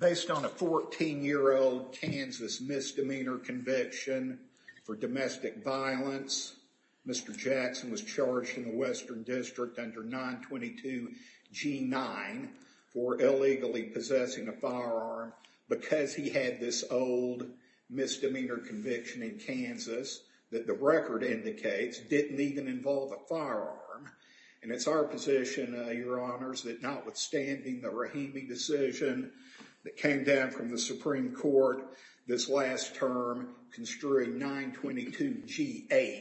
Based on a 14-year-old Kansas misdemeanor conviction for domestic violence, Mr. Jackson was charged in the Western District under 922 G-9 for illegally possessing a firearm because he had this old misdemeanor conviction in Kansas that the record indicates didn't even involve a firearm. And it's our position, Your Honors, that notwithstanding the Rahimi decision that came down from the Supreme Court this last term construing 922 G-8,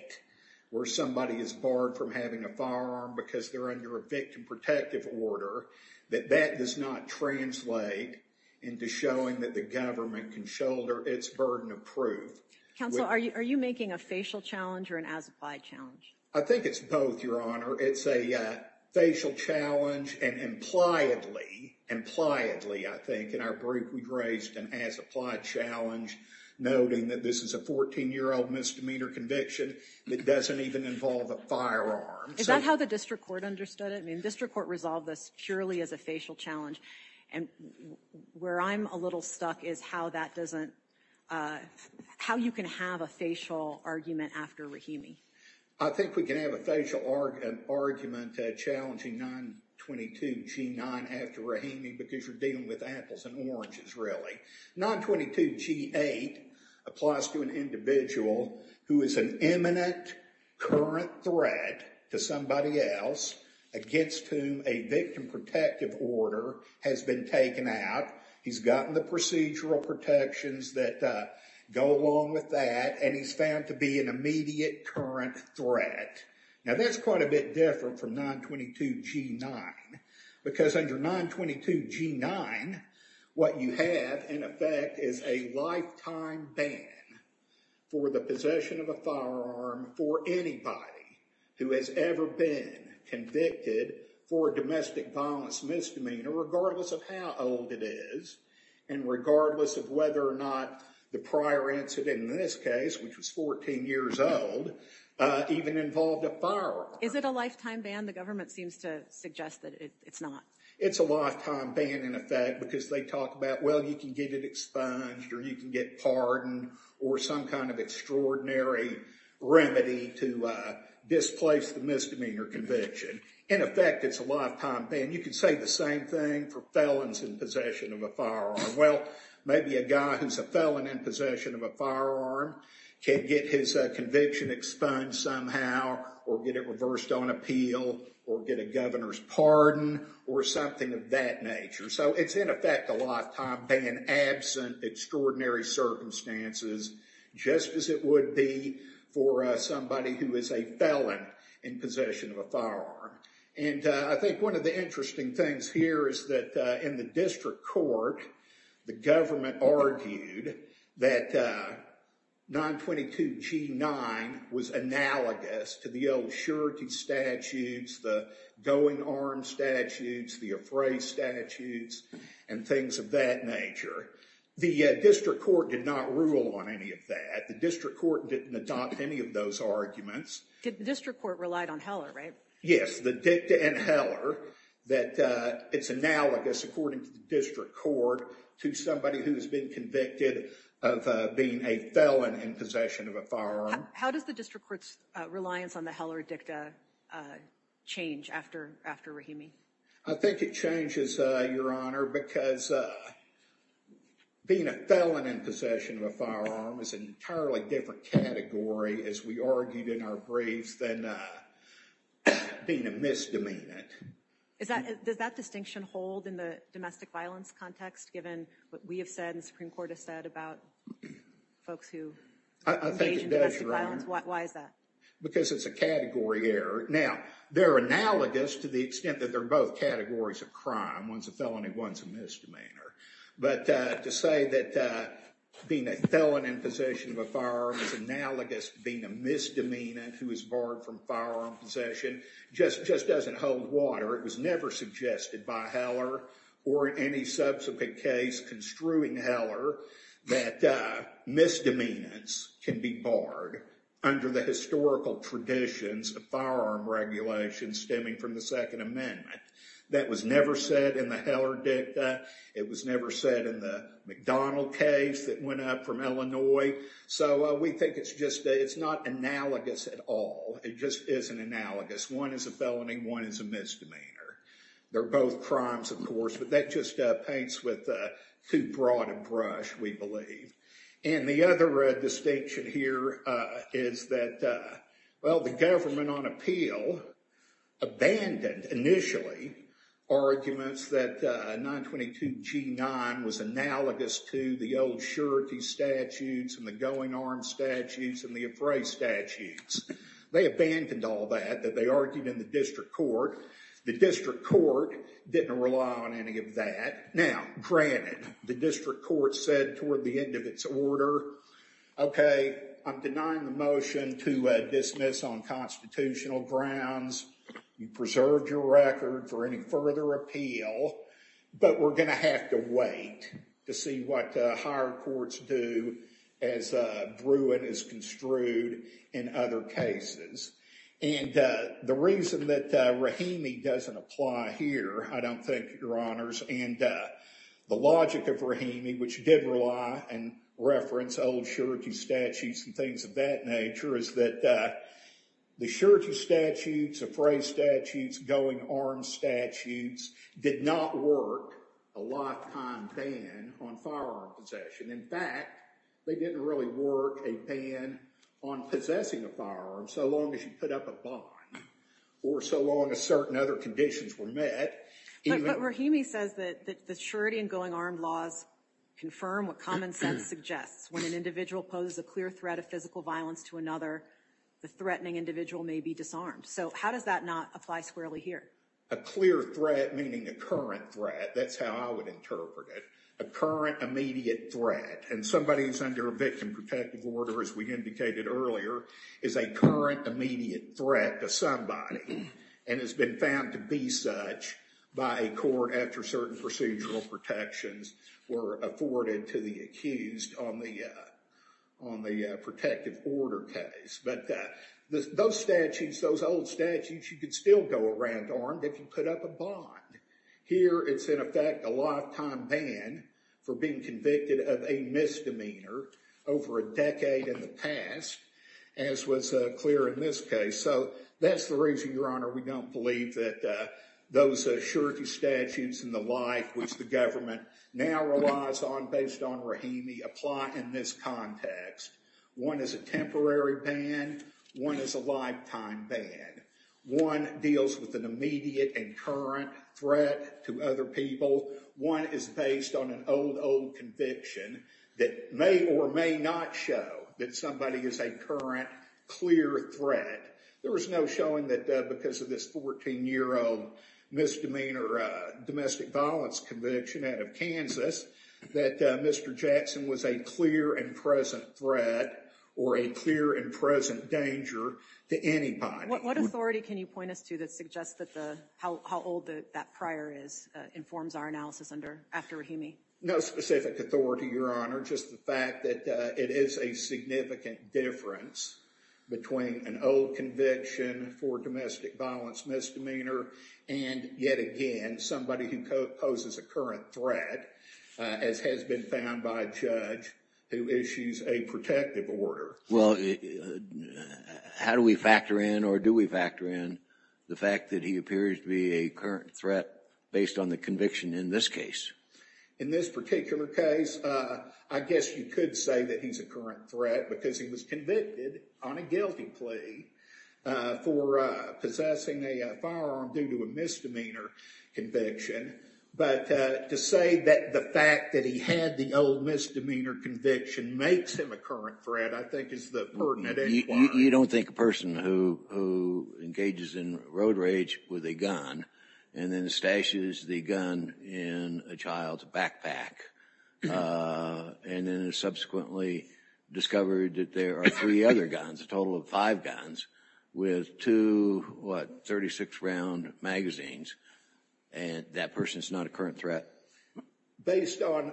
where somebody is barred from having a firearm because they're under a victim protective order, that that does not translate into showing that the government can shoulder its burden of proof. Counsel, are you making a facial challenge or an as-applied challenge? I think it's both, Your Honor. It's a facial challenge and impliedly, impliedly, I think, in our brief we've raised an as-applied challenge noting that this is a 14-year-old misdemeanor conviction that doesn't even involve a firearm. Is that how the District Court understood it? I mean, the District Court resolved this purely as a facial challenge. And where I'm a little stuck is how that doesn't, how you can have a facial argument after Rahimi. I think we can have a facial argument challenging 922 G-9 after Rahimi because you're dealing with apples and oranges, really. 922 G-8 applies to an individual who is an imminent, current threat to somebody else against whom a victim protective order has been taken out. He's gotten the procedural protections that go along with that and he's found to be an immediate, current threat. Now, that's quite a bit different from 922 G-9 because under 922 G-9, what you have in effect is a lifetime ban for the possession of a firearm for anybody who has ever been convicted for a domestic violence misdemeanor regardless of how old it is and regardless of whether or not the prior incident in this case, which was 14 years old, even involved a firearm. Is it a lifetime ban? The government seems to suggest that it's not. It's a lifetime ban in effect because they talk about, well, you can get it expunged or you can get pardoned or some kind of extraordinary remedy to displace the misdemeanor conviction. In effect, it's a lifetime ban. You can say the same thing for felons in possession of a firearm. Well, maybe a guy who's a felon in possession of a firearm can get his conviction expunged somehow or get it reversed on appeal or get a governor's pardon or something of that nature. It's in effect a lifetime ban absent extraordinary circumstances just as it would be for somebody who is a felon in possession of a firearm. I think one of the interesting things here is that in the district court, the government argued that 922 G-9 was analogous to the old surety statutes, the going arm statutes, the raised statutes, and things of that nature. The district court did not rule on any of that. The district court didn't adopt any of those arguments. The district court relied on Heller, right? Yes, the dicta and Heller, that it's analogous according to the district court to somebody who's been convicted of being a felon in possession of a firearm. How does the district court's reliance on the Heller dicta change after Rahimi? I think it changes, Your Honor, because being a felon in possession of a firearm is an entirely different category, as we argued in our briefs, than being a misdemeanant. Does that distinction hold in the domestic violence context, given what we have said and the Supreme Court has said about folks who engage in domestic violence? Why is that? Because it's a category error. Now, they're analogous to the extent that they're both categories of crime. One's a felony, one's a misdemeanor. But to say that being a felon in possession of a firearm is analogous to being a misdemeanant who is barred from firearm possession just doesn't hold water. It was never suggested by Heller or any subsequent case construing Heller that misdemeanants can be barred under the historical traditions of firearm regulations stemming from the Second Amendment. That was never said in the Heller dicta. It was never said in the McDonald case that went up from Illinois. So we think it's not analogous at all. It just isn't analogous. One is a felony, one is a misdemeanor. They're both crimes, of course, but that just paints with too broad a brush, we believe. And the other distinction here is that, well, the government on appeal abandoned initially arguments that 922G9 was analogous to the old surety statutes and the going arm statutes and the appraise statutes. They abandoned all that, that they argued in the district court. The district court didn't rely on any of that. Now, granted, the district court said toward the end of its order, okay, I'm denying the motion to dismiss on constitutional grounds. You preserved your record for any further appeal, but we're going to have to wait to see what higher courts do as Bruin is construed in other cases. And the reason that Rahimi doesn't apply here, I don't think, your honors, and the logic of Rahimi, which did rely and reference old surety statutes and things of that nature, is that the surety statutes, appraise statutes, going arm statutes did not work a lifetime ban on firearm possession. In fact, they didn't really work a ban on possessing a firearm so long as you put up a bond or so long as certain other conditions were met. But Rahimi says that the surety and going armed laws confirm what common sense suggests. When an individual poses a clear threat of physical violence to another, the threatening individual may be disarmed. So how does that not apply squarely here? A clear threat, meaning a current threat, that's how I would interpret it. A current immediate threat. And somebody who's under a victim protective order, as we indicated earlier, is a current immediate threat to somebody and has been found to be such by a court after certain procedural protections were afforded to the accused on the protective order case. But those statutes, those old statutes, you could still go around armed if you put up a bond. Here, it's in effect a lifetime ban for being convicted of a misdemeanor over a decade in the past, as was clear in this case. So that's the reason, Your Honor, we don't believe that those surety statutes and the like, which the government now relies on based on Rahimi, apply in this context. One is a temporary ban. One is a lifetime ban. One deals with an immediate and current threat to other people. One is based on an old, old conviction that may or may not show that somebody is a current clear threat. There was no showing that because of this 14-year-old misdemeanor domestic violence conviction out of Kansas, that Mr. Jackson was a clear and present threat or a clear and present danger to anybody. What authority can you point us to that suggests how old that prior is, informs our analysis under, after Rahimi? No specific authority, Your Honor. Just the fact that it is a significant difference between an old conviction for domestic violence misdemeanor and, yet again, somebody who poses a current threat, as has been found by a judge who issues a protective order. Well, how do we factor in or do we factor in the fact that he appears to be a current threat based on the conviction in this case? In this particular case, I guess you could say that he's a current threat because he was convicted on a guilty plea for possessing a firearm due to a misdemeanor conviction. But to say that the fact that he had the old misdemeanor conviction makes him a current threat, I think, is the burden at any point. You don't think a person who engages in road rage with a gun and then stashes the gun in a child's backpack and then is subsequently discovered that there are three other guns, a total of five guns, with two, what, 36-round magazines, that person's not a current threat? Based on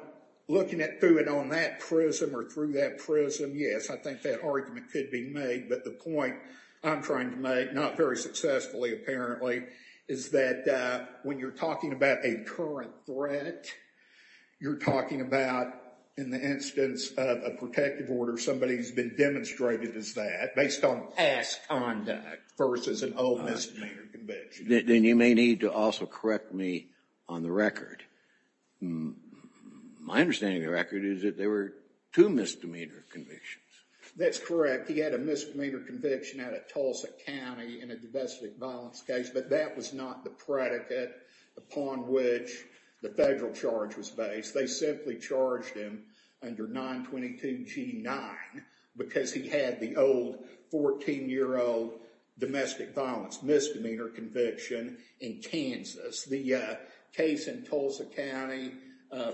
looking at it on that prism or through that prism, yes, I think that argument could be made. But the point I'm trying to make, not very successfully apparently, is that when you're talking about a current threat, you're talking about, in the instance of a protective order, somebody who's been demonstrated as that based on past conduct versus an old misdemeanor conviction. Then you may need to also correct me on the record. My understanding of the record is that there were two misdemeanor convictions. That's correct. He had a misdemeanor conviction out of Tulsa County in a domestic violence case, but that was not the predicate upon which the federal charge was based. They simply charged him under 922 G9 because he had the old 14-year-old domestic violence misdemeanor conviction in Kansas. The case in Tulsa County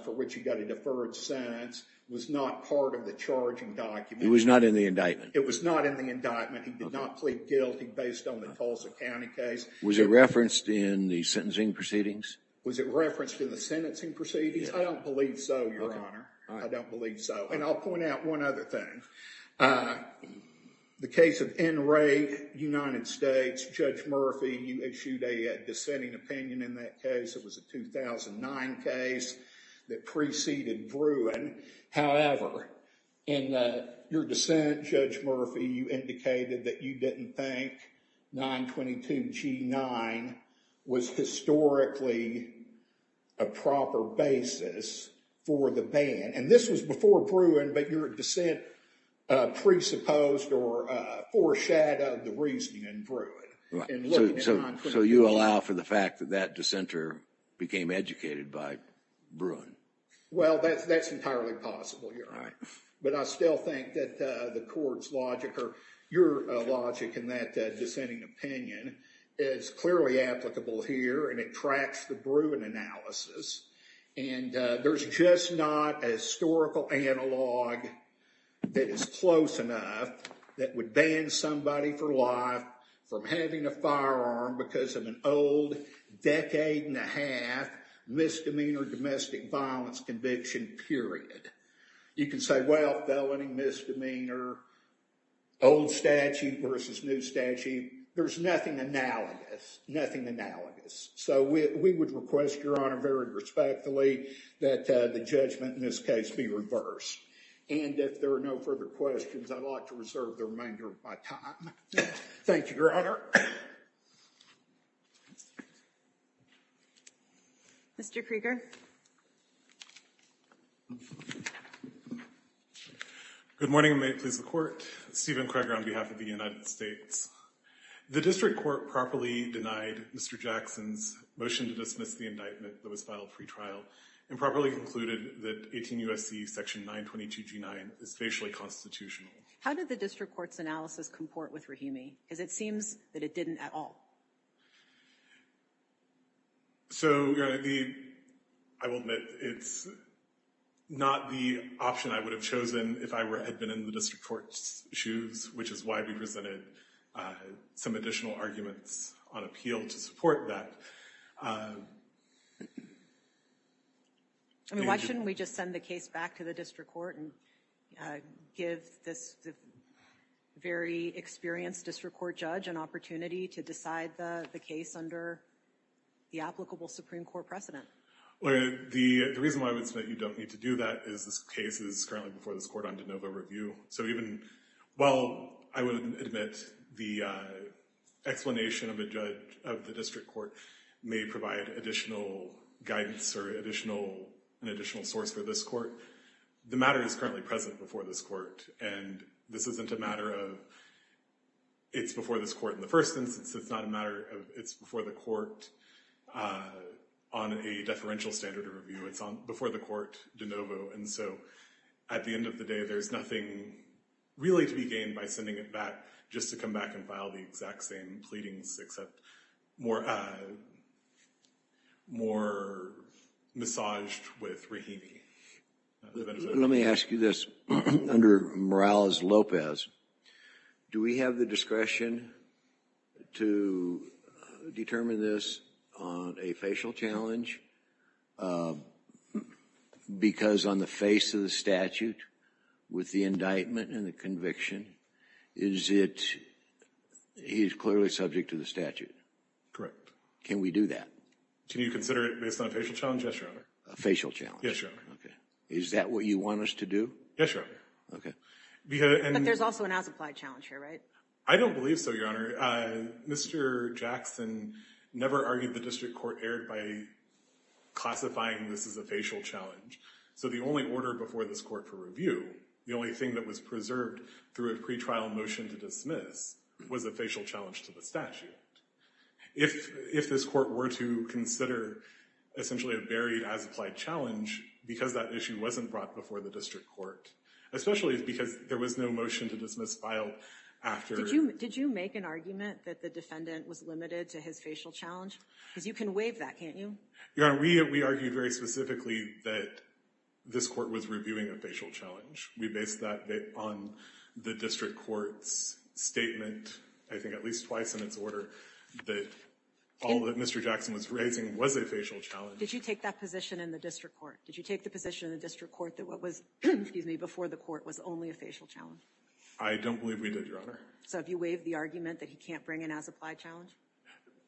for which he got a deferred sentence was not part of the charging document. It was not in the indictment. It was not in the indictment. He did not plead guilty based on the Tulsa County case. Was it referenced in the sentencing proceedings? Was it referenced in the sentencing proceedings? I don't believe so, Your Honor. I don't believe so. I'll point out one other thing. The case of NRA United States, Judge Murphy, you issued a dissenting opinion in that case. It was a 2009 case that preceded Bruin. However, in your dissent, Judge Murphy, you indicated that you didn't think 922 G9 was historically a proper basis for the ban. This was before Bruin, but your dissent presupposed or foreshadowed the reasoning in Bruin. So you allow for the fact that that dissenter became educated by Bruin? Well, that's entirely possible, Your Honor. But I still think that the court's logic or your logic in that dissenting opinion is clearly applicable here, and it tracks the Bruin analysis. And there's just not a historical analog that is close enough that would ban somebody for life from having a firearm because of an old decade and a half misdemeanor domestic violence conviction period. You can say, well, felony misdemeanor, old statute versus new statute. There's nothing analogous, nothing analogous. So we would request, Your Honor, very respectfully that the judgment in this case be reversed. And if there are no further questions, I'd like to reserve the remainder of my time. Thank you, Your Honor. Mr. Krieger. Good morning, and may it please the Court. Stephen Krieger on behalf of the United States. The district court properly denied Mr. Jackson's motion to dismiss the indictment that was filed pre-trial and properly concluded that 18 U.S.C. section 922G9 is facially constitutional. How did the district court's analysis comport with Rahimi? Because it seems that it didn't at all. So, Your Honor, I will admit it's not the option I would have chosen if I had been in some additional arguments on appeal to support that. I mean, why shouldn't we just send the case back to the district court and give this very experienced district court judge an opportunity to decide the case under the applicable Supreme Court precedent? The reason why I would say that you don't need to do that is this case is currently before this court on de novo review. So even while I would admit the explanation of a judge of the district court may provide additional guidance or an additional source for this court, the matter is currently present before this court. And this isn't a matter of it's before this court in the first instance. It's not a matter of it's before the court on a deferential standard of review. It's before the court de novo. And so at the end of the day, there's nothing really to be gained by sending it back just to come back and file the exact same pleadings, except more massaged with Rahimi. Let me ask you this. Under Morales-Lopez, do we have the discretion to determine this on a facial challenge? Because on the face of the statute, with the indictment and the conviction, is it he's clearly subject to the statute. Correct. Can we do that? Can you consider it based on a facial challenge? Yes, your honor. A facial challenge? Yes, your honor. Okay. Is that what you want us to do? Yes, your honor. Okay. But there's also an as-applied challenge here, right? I don't believe so, your honor. Mr. Jackson never argued the district court erred by a facial challenge. Classifying this as a facial challenge. So the only order before this court for review, the only thing that was preserved through a pretrial motion to dismiss, was a facial challenge to the statute. If this court were to consider essentially a buried as-applied challenge, because that issue wasn't brought before the district court, especially because there was no motion to dismiss file after... Did you make an argument that the defendant was limited to his facial challenge? Because you can waive that, can't you? Your honor, we argued very specifically that this court was reviewing a facial challenge. We based that on the district court's statement, I think at least twice in its order, that all that Mr. Jackson was raising was a facial challenge. Did you take that position in the district court? Did you take the position in the district court that what was, excuse me, before the court was only a facial challenge? I don't believe we did, your honor. So have you waived the argument that he can't bring an as-applied challenge?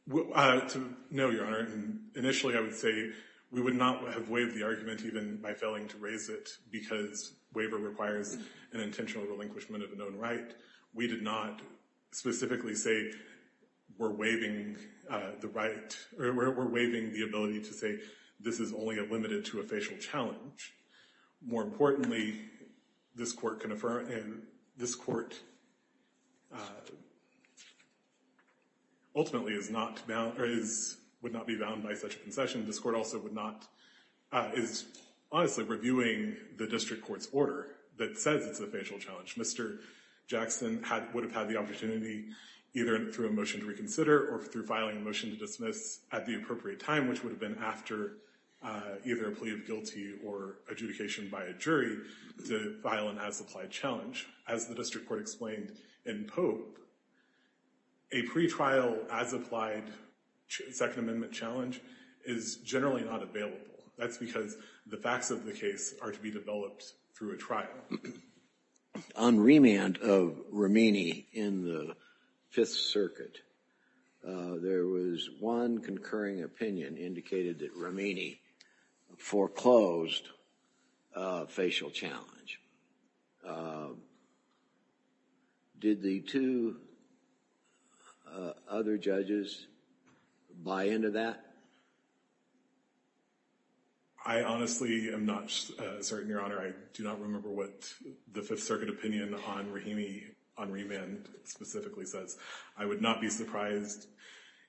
No, your honor. Initially, I would say we would not have waived the argument even by failing to raise it because waiver requires an intentional relinquishment of a known right. We did not specifically say we're waiving the right or we're waiving the ability to say this is only limited to a facial challenge. More importantly, this court ultimately would not be bound by such a concession. This court also is honestly reviewing the district court's order that says it's a facial challenge. Mr. Jackson would have had the opportunity either through a motion to reconsider or through filing a motion to dismiss at the appropriate time, which would have been after either a adjudication by a jury to file an as-applied challenge. As the district court explained in Pope, a pretrial as-applied Second Amendment challenge is generally not available. That's because the facts of the case are to be developed through a trial. On remand of Romini in the Fifth Circuit, there was one concurring opinion indicated that Romini foreclosed a facial challenge. Did the two other judges buy into that? I honestly am not certain, Your Honor. I do not remember what the Fifth Circuit opinion on Romini on remand specifically says. I would not be surprised.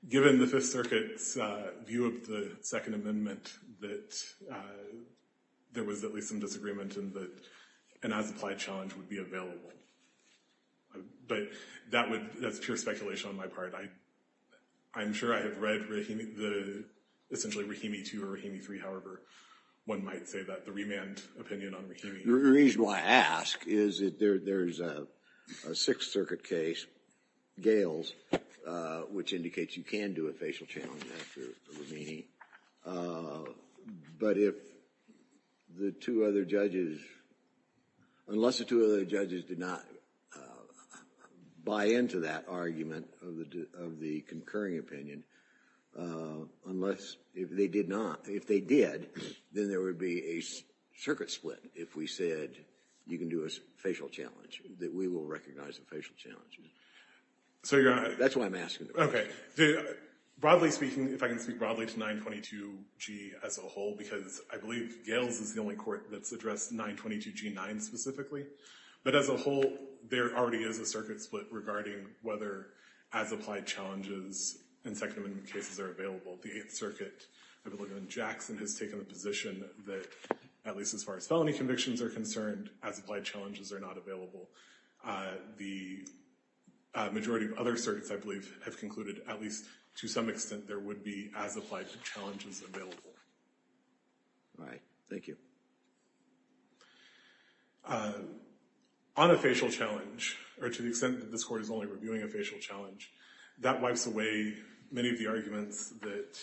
Given the Fifth Circuit's view of the Second Amendment, there was at least some disagreement in that an as-applied challenge would be available. But that's pure speculation on my part. I'm sure I have read, essentially, Rahimi 2 or Rahimi 3, however one might say that the remand opinion on Rahimi. The reason why I ask is that there's a Sixth Circuit case, Gales, which indicates you can do a facial challenge after Romini. But if the two other judges, unless the two other judges did not buy into that argument of the concurring opinion, unless they did not, if they did, then there would be a circuit split if we said you can do a facial challenge, that we will recognize a facial challenge. That's why I'm asking the question. Broadly speaking, if I can speak broadly to 922G as a whole, because I believe Gales is the only court that's addressed 922G9 specifically. But as a whole, there already is a circuit split regarding whether as-applied challenges in Second Amendment cases are available. The Eighth Circuit, I believe Jackson has taken the position that at least as far as felony convictions are concerned, as-applied challenges are not available. The majority of other circuits, I believe, have concluded at least to some extent there would be as-applied challenges available. All right, thank you. On a facial challenge, or to the extent that this court is only reviewing a facial challenge, that wipes away many of the arguments that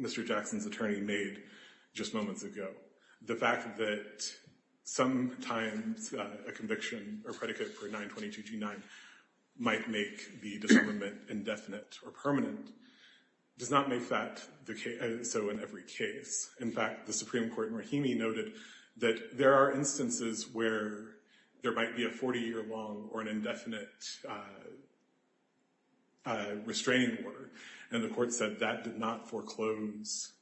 Mr. Jackson's attorney made just moments ago. The fact that sometimes a conviction or predicate for 922G9 might make the disarmament indefinite or permanent does not make that so in every case. In fact, the Supreme Court in Rahimi noted that there are instances where there might be a 40-year long or an indefinite restraining order. And the court said that did not foreclose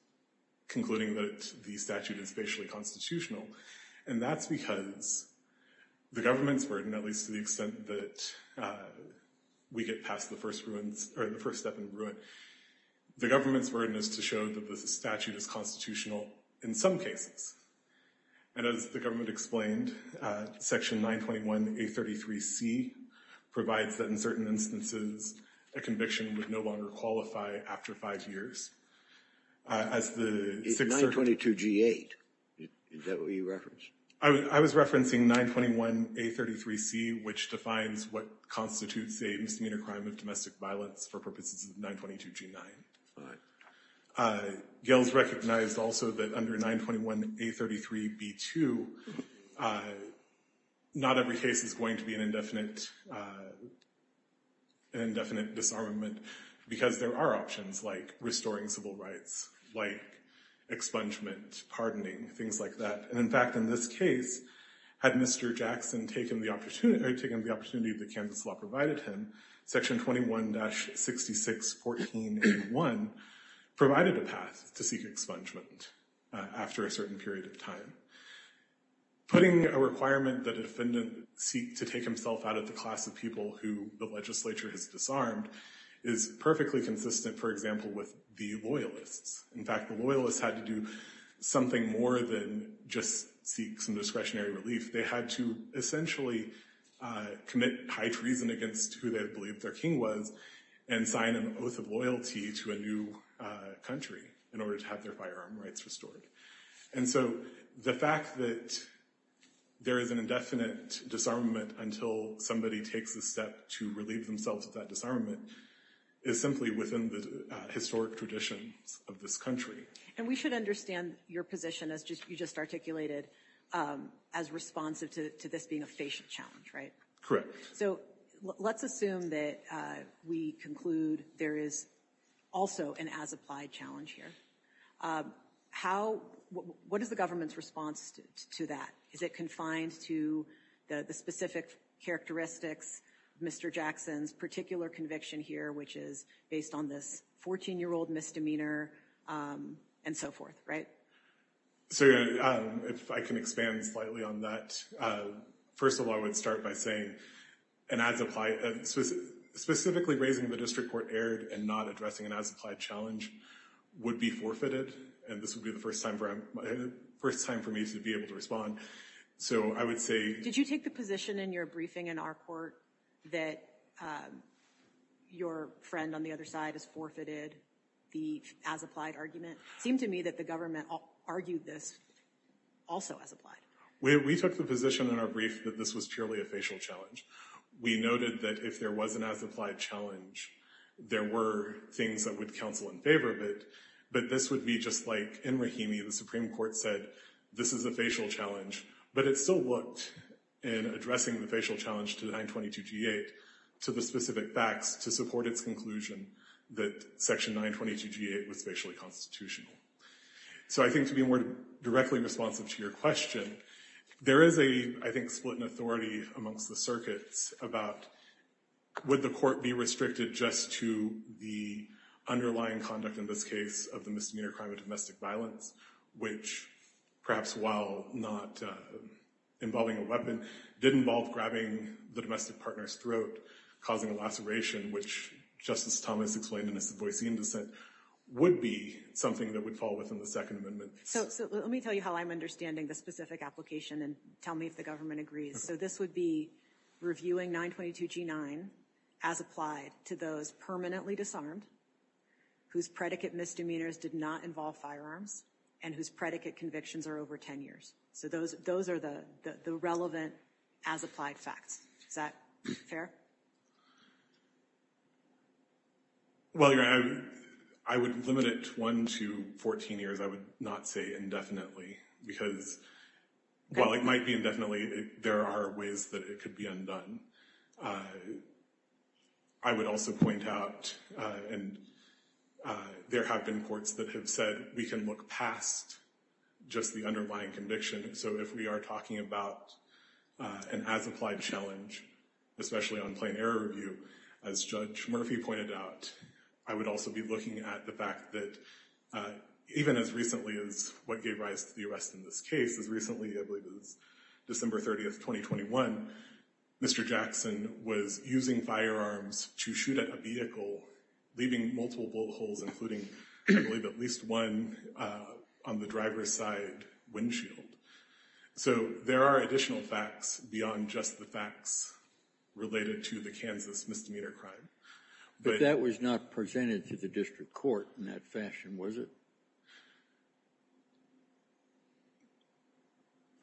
concluding that the statute is facially constitutional. And that's because the government's burden, at least to the extent that we get past the first step in ruin, the government's burden is to show that the statute is constitutional in some cases. And as the government explained, section 921A33C provides that in certain instances, a conviction would no longer qualify after five years. As the 6th Circuit- It's 922G8, is that what you referenced? I was referencing 921A33C, which defines what constitutes a misdemeanor crime of domestic violence for purposes of 922G9. But Gail's recognized also that under 921A33B2, not every case is going to be an indefinite disarmament because there are options like restoring civil rights, like expungement, pardoning, things like that. And in fact, in this case, had Mr. Jackson taken the opportunity that Kansas law provided him, section 21-6614A1 provided a path to seek expungement after a certain period of Putting a requirement that a defendant seek to take himself out of the class of people who the legislature has disarmed is perfectly consistent, for example, with the loyalists. In fact, the loyalists had to do something more than just seek some discretionary relief. They had to essentially commit high treason against who they believed their king was and sign an oath of loyalty to a new country in order to have their firearm rights restored. And so the fact that there is an indefinite disarmament until somebody takes a step to relieve themselves of that disarmament is simply within the historic traditions of this country. And we should understand your position, as you just articulated, as responsive to this being a facial challenge, right? Correct. So let's assume that we conclude there is also an as-applied challenge here. What is the government's response to that? Is it confined to the specific characteristics of Mr. Jackson's particular conviction here, which is based on this 14-year-old misdemeanor and so forth, right? So if I can expand slightly on that. First of all, I would start by saying, specifically raising the district court error and not addressing an as-applied challenge would be forfeited. And this would be the first time for me to be able to respond. So I would say... Did you take the position in your briefing in our court that your friend on the other side has forfeited the as-applied argument? It seemed to me that the government argued this also as-applied. We took the position in our brief that this was purely a facial challenge. We noted that if there was an as-applied challenge, there were things that would counsel in favor of it. But this would be just like in Rahimi, the Supreme Court said, this is a facial challenge. But it still looked in addressing the facial challenge to 922G8 to the specific facts to support its conclusion that Section 922G8 was facially constitutional. So I think to be more directly responsive to your question, there is a, I think, split in authority amongst the circuits about would the court be restricted just to the underlying conduct in this case of the misdemeanor crime of domestic violence, which, perhaps while not involving a weapon, did involve grabbing the domestic partner's throat, causing a laceration, which, Justice Thomas explained in his Savoy Scene dissent, would be something that would fall within the Second Amendment. So let me tell you how I'm understanding the specific application, and tell me if the government agrees. So this would be reviewing 922G9 as applied to those permanently disarmed, whose predicate misdemeanors did not involve firearms, and whose predicate convictions are over 10 years. So those are the relevant as applied facts. Is that fair? Well, I would limit it one to 14 years. I would not say indefinitely, because while it might be indefinitely, there are ways that it could be undone. I would also point out, and there have been courts that have said, we can look past just the underlying conviction. So if we are talking about an as applied challenge, especially on plain error review, as Judge Murphy pointed out, I would also be looking at the fact that, even as recently as what gave rise to the arrest in this case, as recently, I believe it was December 30th, 2021, Mr. Jackson was using firearms to shoot at a vehicle, leaving multiple bullet holes, including, I believe, at least one on the driver's side windshield. So there are additional facts beyond just the facts related to the Kansas misdemeanor crime. But that was not presented to the district court in that fashion, was it?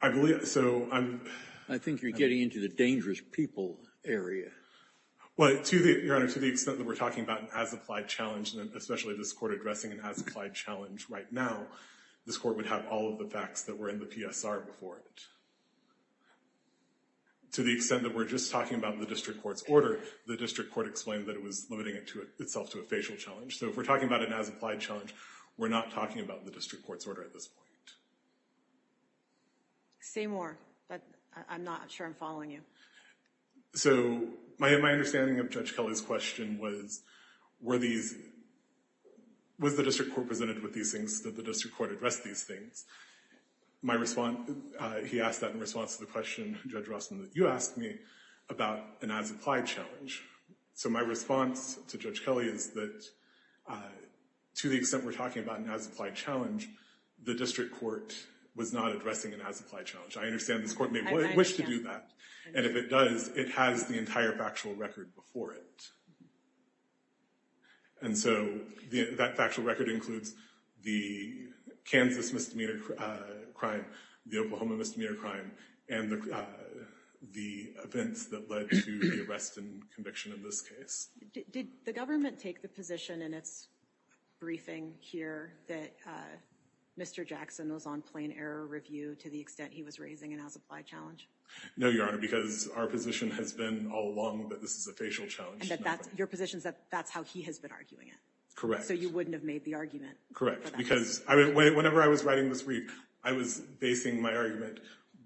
I think you're getting into the dangerous people area. Well, Your Honor, to the extent that we're talking about an as applied challenge, especially this court addressing an as applied challenge right now, this court would have all of the facts that were in the PSR before it. To the extent that we're just talking about the district court's order, the district court explained that it was limiting itself to a facial challenge. So if we're talking about an as applied challenge, we're not talking about the district court's order at this point. Say more. I'm not sure I'm following you. So my understanding of Judge Kelly's question was, was the district court presented with these things? Did the district court address these things? He asked that in response to the question, Judge Rossman, that you asked me about an as applied challenge. So my response to Judge Kelly is that, to the extent we're talking about an as applied challenge, the district court was not addressing an as applied challenge. I understand this court may wish to do that. And if it does, it has the entire factual record before it. And so that factual record includes the Kansas misdemeanor crime, the Oklahoma misdemeanor crime, and the events that led to the arrest and conviction of this case. Did the government take the position in its briefing here that Mr. Jackson was on plain error review to the extent he was raising an as applied challenge? No, Your Honor, because our position has been all along that this is a facial challenge. And your position is that that's how he has been arguing it? Correct. So you wouldn't have made the argument? Correct, because whenever I was writing this brief, I was basing my argument,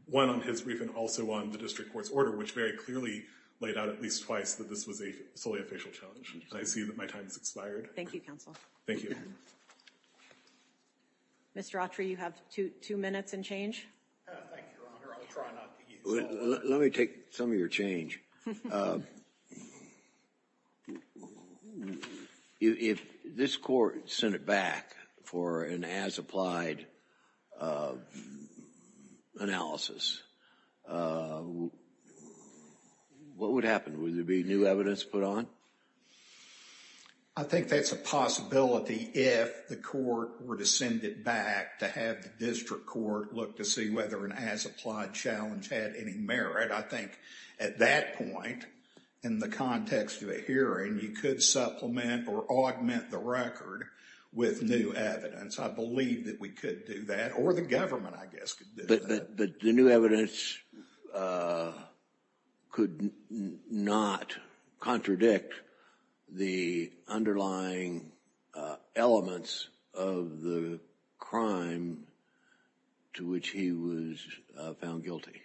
one on his brief, and also on the district court's order, which very clearly laid out at least twice that this was solely a facial challenge. I see that my time has expired. Thank you, counsel. Thank you. Mr. Autry, you have two minutes and change. Thank you, Your Honor. I'll try not to use that. Let me take some of your change. If this court sent it back for an as applied analysis, what would happen? Would there be new evidence put on? I think that's a possibility if the court were to send it back to have the district court look to see whether an as applied challenge had any merit. I think at that point, in the context of a hearing, you could supplement or augment the record with new evidence. I believe that we could do that, or the government, I guess, could do that. But the new evidence could not contradict the underlying elements of the crime to which he was found guilty.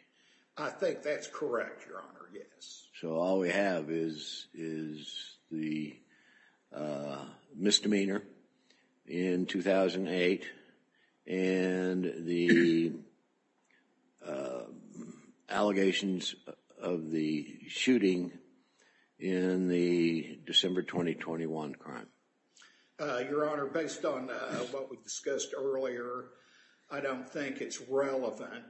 I think that's correct, Your Honor, yes. So all we have is the misdemeanor in 2008 and the allegations of the shooting in the December 2021 crime. Your Honor, based on what we discussed earlier, I don't think it's relevant.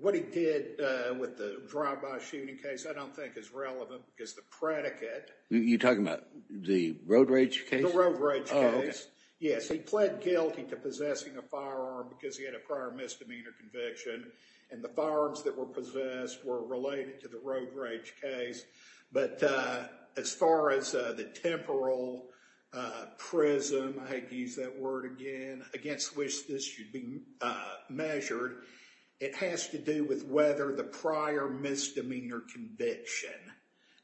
What he did with the drive-by shooting case, I don't think is relevant because the predicate. You're talking about the road rage case? The road rage case, yes. He pled guilty to possessing a firearm because he had a prior misdemeanor conviction. And the firearms that were possessed were related to the road rage case. But as far as the temporal prism, I hate to use that word again, against which this should be measured, it has to do with whether the prior misdemeanor conviction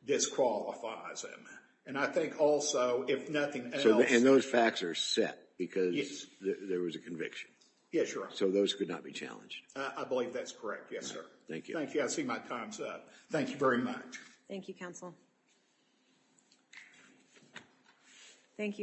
disqualifies him. And I think also, if nothing else. And those facts are set because there was a conviction? Yes, Your Honor. So those could not be challenged? I believe that's correct, yes, sir. Thank you. I see my time's up. Thank you very much. Thank you, counsel. Thank you.